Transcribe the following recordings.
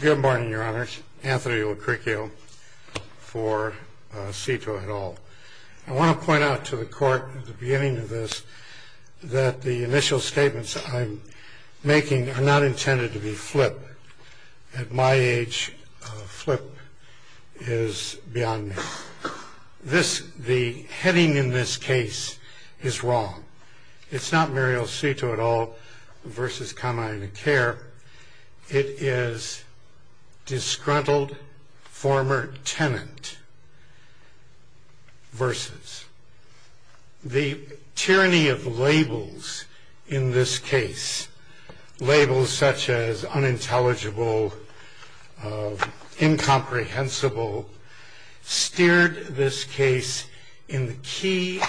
Good morning, your honors. Anthony Locricchio for Seto et al. I want to point out to the court at the beginning of this that the initial statements I'm making are not intended to be flip. At my age, flip is beyond me. The heading in this case is wrong. It's not Mariel Seto et al. v. Kaminaitakere. It is disgruntled former tenant versus. The tyranny of labels in this case, labels such as unintelligible, incomprehensible, steered this case in the key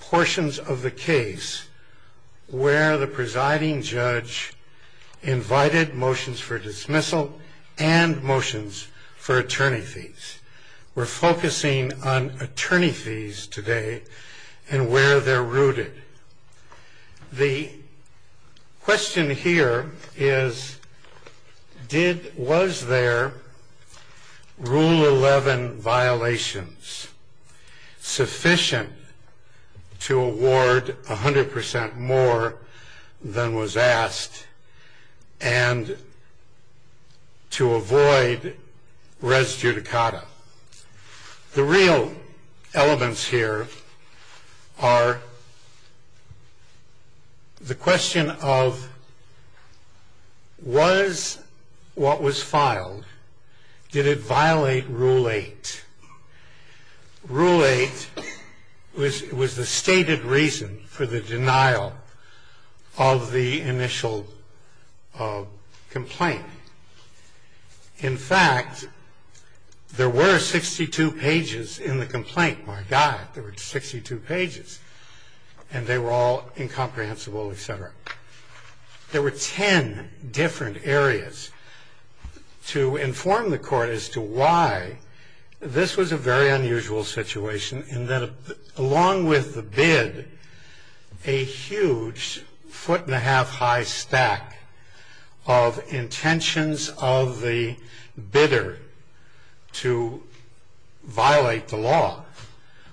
portions of the case where the presiding judge invited motions for dismissal and motions for attorney fees. We're focusing on attorney fees today and where they're rooted. The question here is, was there Rule 11 violations sufficient to award 100% more than was asked and to avoid res judicata? The real elements here are the question of, was what was filed, did it violate Rule 8? Rule 8 was the stated reason for the denial of the initial complaint. In fact, there were 62 pages in the complaint. My God, there were 62 pages, and they were all incomprehensible, et cetera. There were 10 different areas to inform the court as to why this was a very unusual situation Along with the bid, a huge foot and a half high stack of intentions of the bidder to violate the law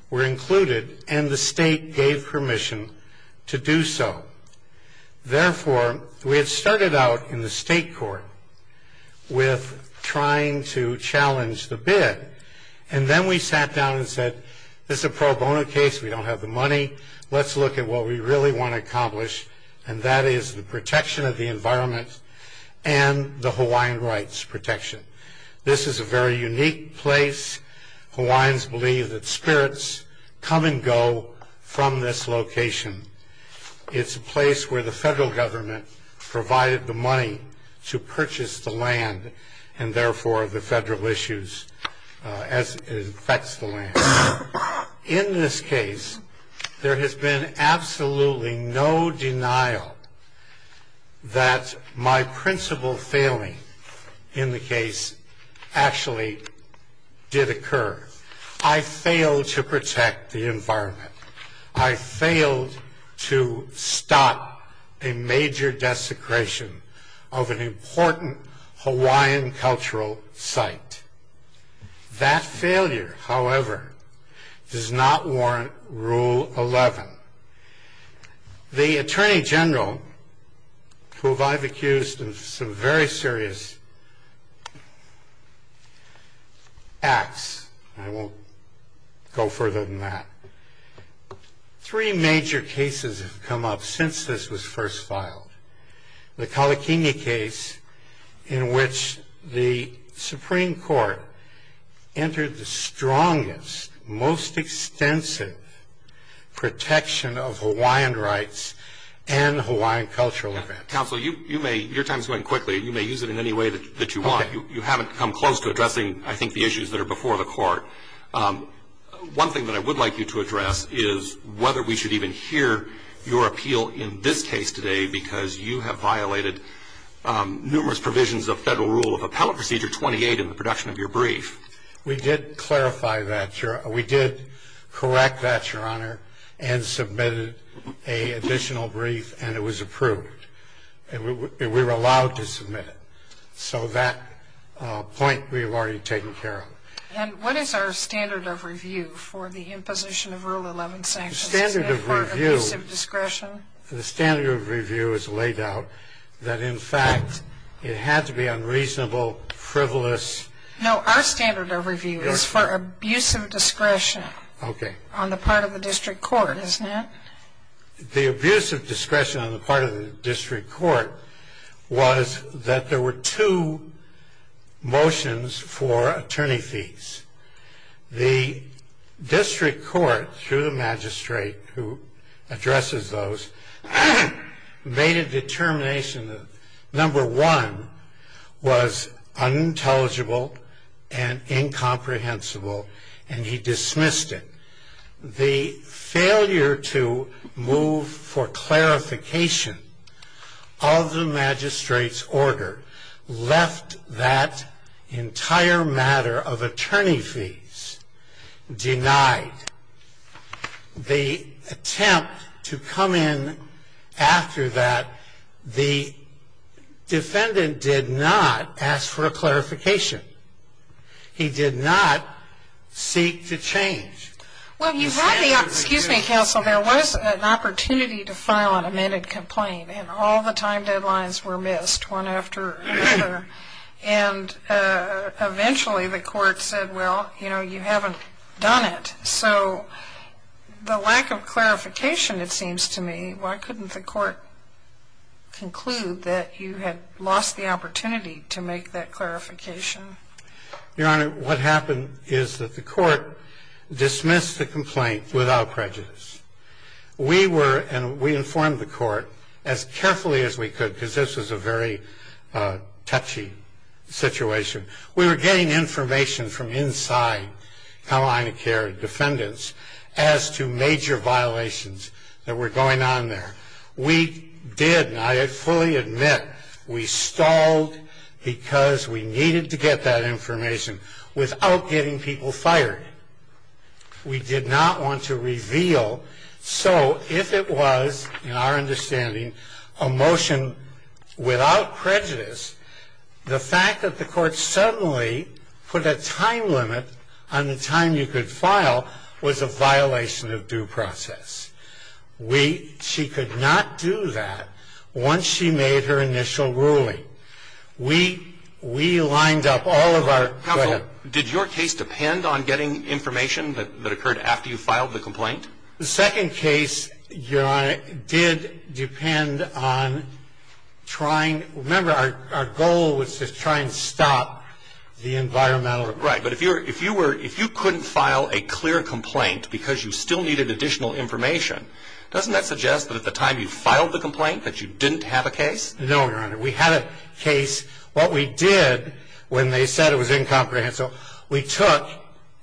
were included, and the state gave permission to do so. Therefore, we had started out in the state court with trying to challenge the bid, and then we sat down and said, this is a pro bono case. We don't have the money. Let's look at what we really want to accomplish, and that is the protection of the environment and the Hawaiian rights protection. This is a very unique place. Hawaiians believe that spirits come and go from this location. It's a place where the federal government provided the money to purchase the land, and therefore the federal issues as it affects the land. In this case, there has been absolutely no denial that my principal failing in the case actually did occur. I failed to protect the environment. I failed to stop a major desecration of an important Hawaiian cultural site. That failure, however, does not warrant Rule 11. The Attorney General, who I've accused of some very serious acts, I won't go further than that. Three major cases have come up since this was first filed. The Kalikini case in which the Supreme Court entered the strongest, most extensive protection of Hawaiian rights and Hawaiian cultural events. Counsel, your time is going quickly. You may use it in any way that you want. You haven't come close to addressing, I think, the issues that are before the court. One thing that I would like you to address is whether we should even hear your appeal in this case today because you have violated numerous provisions of Federal Rule of Appellate Procedure 28 in the production of your brief. We did clarify that. We did correct that, Your Honor, and submitted an additional brief, and it was approved. We were allowed to submit it. So that point we have already taken care of. And what is our standard of review for the imposition of Rule 11 sanctions? Is that part of a piece of discretion? The standard of review is laid out that, in fact, it had to be unreasonable, frivolous. No, our standard of review is for abuse of discretion on the part of the district court, isn't it? The abuse of discretion on the part of the district court was that there were two motions for attorney fees. The district court, through the magistrate who addresses those, made a determination. Number one was unintelligible and incomprehensible, and he dismissed it. The failure to move for clarification of the magistrate's order left that entire matter of attorney fees denied. The attempt to come in after that, the defendant did not ask for a clarification. He did not seek to change his standard of review. Well, you had the opportunity, counsel, there was an opportunity to file an amended complaint, and all the time deadlines were missed one after another. And eventually the court said, well, you know, you haven't done it. So the lack of clarification, it seems to me, Why couldn't the court conclude that you had lost the opportunity to make that clarification? Your Honor, what happened is that the court dismissed the complaint without prejudice. We were, and we informed the court as carefully as we could, because this was a very touchy situation. We were getting information from inside Carolina Care defendants as to major violations that were going on there. We did, and I fully admit, we stalled because we needed to get that information without getting people fired. We did not want to reveal. So if it was, in our understanding, a motion without prejudice, the fact that the court suddenly put a time limit on the time you could file was a violation of due process. She could not do that once she made her initial ruling. We lined up all of our... Counsel, did your case depend on getting information that occurred after you filed the complaint? The second case, Your Honor, did depend on trying... Remember, our goal was to try and stop the environmental... Right, but if you couldn't file a clear complaint because you still needed additional information, doesn't that suggest that at the time you filed the complaint that you didn't have a case? No, Your Honor. We had a case. What we did when they said it was incomprehensible, we took...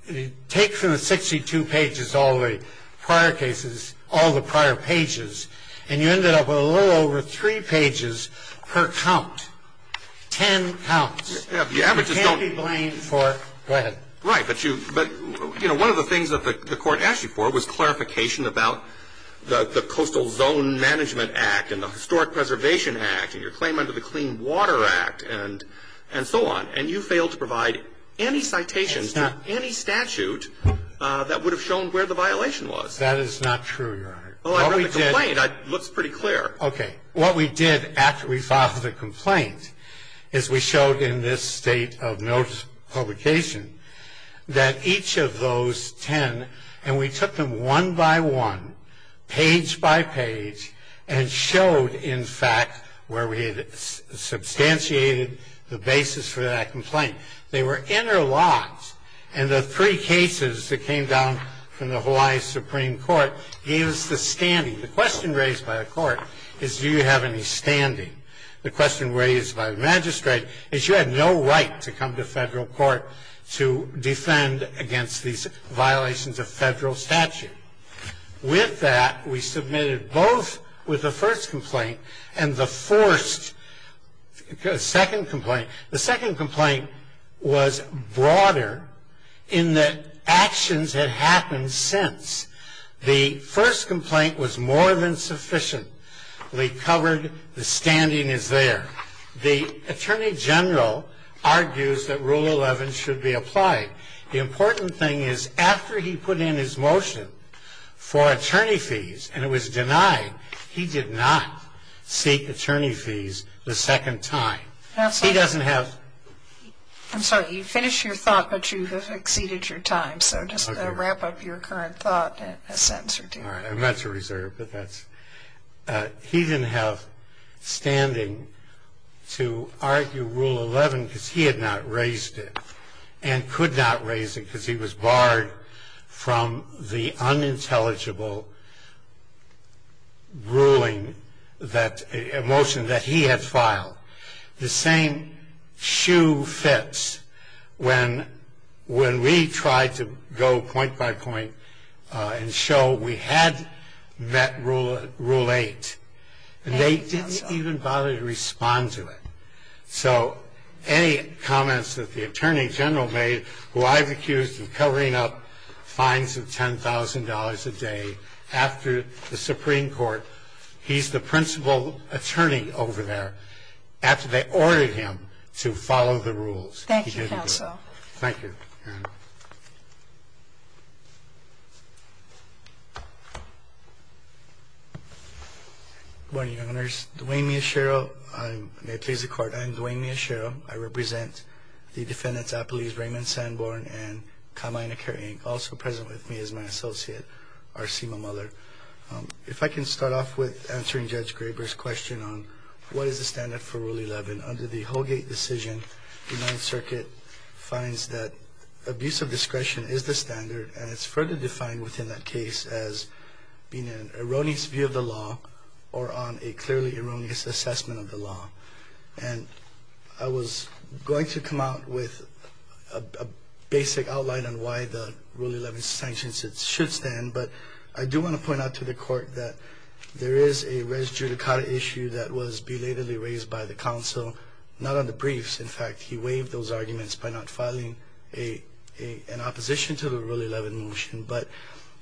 We took all the prior cases, all the prior pages, and you ended up with a little over three pages per count. Ten counts. You can't be blamed for... Go ahead. Right, but you... You know, one of the things that the court asked you for was clarification about the Coastal Zone Management Act and the Historic Preservation Act and your claim under the Clean Water Act and so on, and you failed to provide any citations to any statute that would have shown where the violation was. That is not true, Your Honor. Well, I read the complaint. What we did... It looks pretty clear. Okay. What we did after we filed the complaint is we showed in this state of notice publication that each of those ten, and we took them one by one, page by page, and showed in fact where we had substantiated the basis for that complaint. They were interlocked, and the three cases that came down from the Hawaii Supreme Court gave us the standing. The question raised by the court is, do you have any standing? The question raised by the magistrate is, but you had no right to come to federal court to defend against these violations of federal statute. With that, we submitted both with the first complaint and the forced second complaint. The second complaint was broader in that actions had happened since. The first complaint was more than sufficiently covered. The standing is there. The attorney general argues that Rule 11 should be applied. The important thing is after he put in his motion for attorney fees and it was denied, he did not seek attorney fees the second time. He doesn't have... I'm sorry. You finished your thought, but you have exceeded your time, so just wrap up your current thought in a sentence or two. I meant to reserve, but that's... He didn't have standing to argue Rule 11 because he had not raised it and could not raise it because he was barred from the unintelligible ruling that... motion that he had filed. The same shoe fits when we tried to go point by point and show we had met Rule 8. They didn't even bother to respond to it. So any comments that the attorney general made, who I've accused of covering up fines of $10,000 a day after the Supreme Court, he's the principal attorney over there, after they ordered him to follow the rules. Thank you, counsel. Thank you. Good morning, Your Honors. Dwayne Miyashiro. May it please the Court, I am Dwayne Miyashiro. I represent the defendants, Apolise Raymond Sanborn and Carmina Kerr, Inc., also present with me is my associate, Arsima Muller. If I can start off with answering Judge Graber's question on what is the standard for Rule 11. Under the Holgate decision, the Ninth Circuit finds that abuse of discretion is the standard and it's further defined within that case as being an erroneous view of the law or on a clearly erroneous assessment of the law. And I was going to come out with a basic outline on why the Rule 11 sanctions should stand, but I do want to point out to the Court that there is a res judicata issue that was belatedly raised by the counsel, not on the briefs. In fact, he waived those arguments by not filing an opposition to the Rule 11 motion, but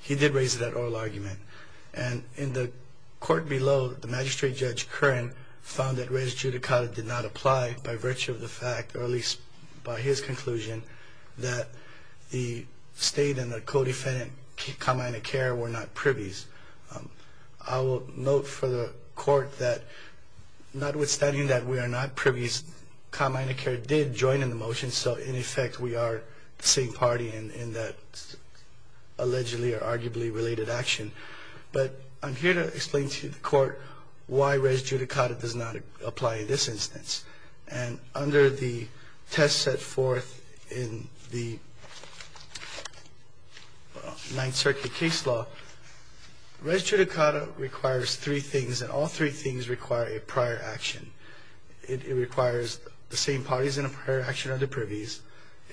he did raise that oral argument. And in the Court below, the Magistrate Judge Curran found that res judicata did not apply by virtue of the fact, or at least by his conclusion, that the State and the co-defendant, Carmina Kerr, were not privies. I will note for the Court that notwithstanding that we are not privies, Carmina Kerr did join in the motion, so in effect we are the same party in that allegedly or arguably related action. But I'm here to explain to the Court why res judicata does not apply in this instance. And under the test set forth in the Ninth Circuit case law, res judicata requires three things, and all three things require a prior action. It requires the same parties in a prior action are the privies,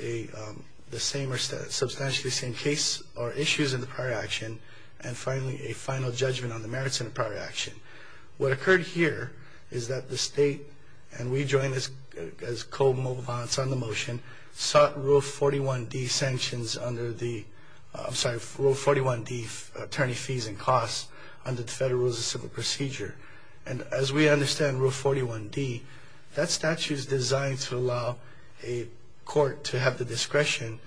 the same or substantially the same case or issues in the prior action, and finally a final judgment on the merits in a prior action. What occurred here is that the State, and we joined as co-movements on the motion, sought Rule 41D sanctions under the, I'm sorry, Rule 41D attorney fees and costs under the Federal Rules of Civil Procedure. And as we understand Rule 41D, that statute is designed to allow a court to have the discretion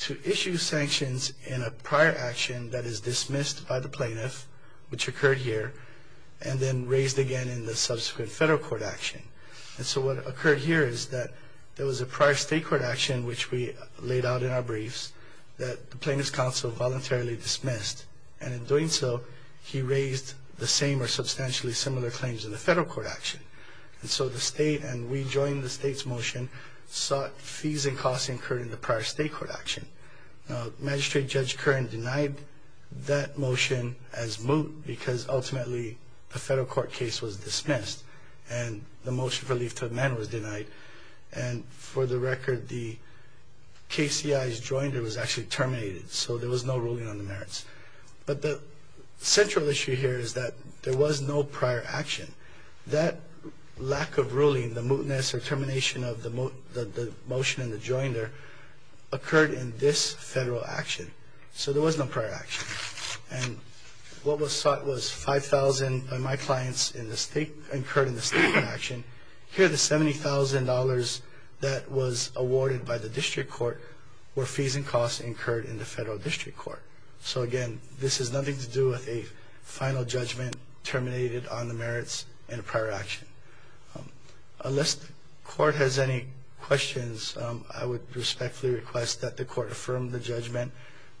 to issue sanctions in a prior action that is dismissed by the plaintiff, which occurred here, and then raised again in the subsequent Federal Court action. And so what occurred here is that there was a prior State Court action, which we laid out in our briefs, that the plaintiff's counsel voluntarily dismissed, and in doing so he raised the same or substantially similar claims in the Federal Court action. And so the State, and we joined the State's motion, sought fees and costs incurred in the prior State Court action. Now, Magistrate Judge Curran denied that motion as moot because ultimately the Federal Court case was dismissed and the motion for leave to amend was denied. And for the record, the KCIs joined it was actually terminated, so there was no ruling on the merits. But the central issue here is that there was no prior action. That lack of ruling, the mootness or termination of the motion and the joinder, occurred in this Federal action. So there was no prior action. And what was sought was $5,000 by my clients incurred in the State Court action. Here the $70,000 that was awarded by the District Court were fees and costs incurred in the Federal District Court. So again, this has nothing to do with a final judgment terminated on the merits in a prior action. Unless the Court has any questions, I would respectfully request that the Court affirm the judgment.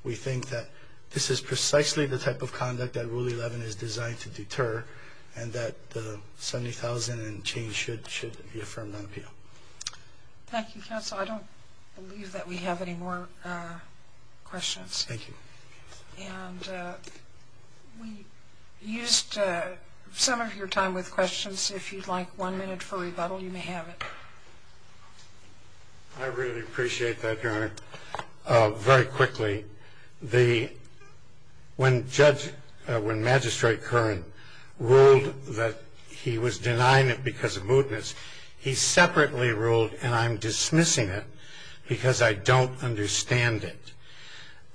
We think that this is precisely the type of conduct that Rule 11 is designed to deter and that the $70,000 and change should be affirmed on appeal. Thank you, Counsel. I don't believe that we have any more questions. Thank you. And we used some of your time with questions. If you'd like one minute for rebuttal, you may have it. I really appreciate that, Your Honor. Very quickly, when Magistrate Curran ruled that he was denying it because of mootness, he separately ruled, and I'm dismissing it because I don't understand it.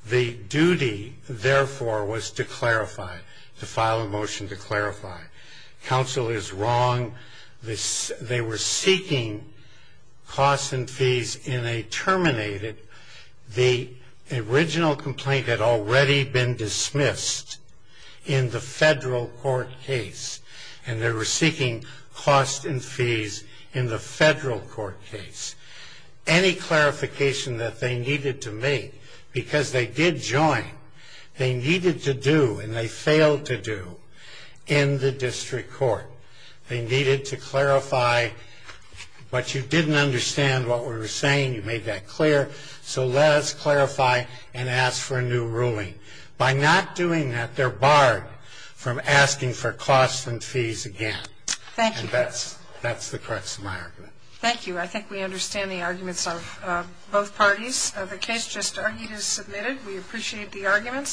The duty, therefore, was to clarify, to file a motion to clarify. Counsel is wrong. They were seeking costs and fees in a terminated. The original complaint had already been dismissed in the Federal Court case, and they were seeking costs and fees in the Federal Court case. Any clarification that they needed to make, because they did join, they needed to do and they failed to do in the District Court. They needed to clarify, but you didn't understand what we were saying. You made that clear, so let us clarify and ask for a new ruling. I think we understand the arguments of both parties. The case just argued is submitted. We appreciate the arguments.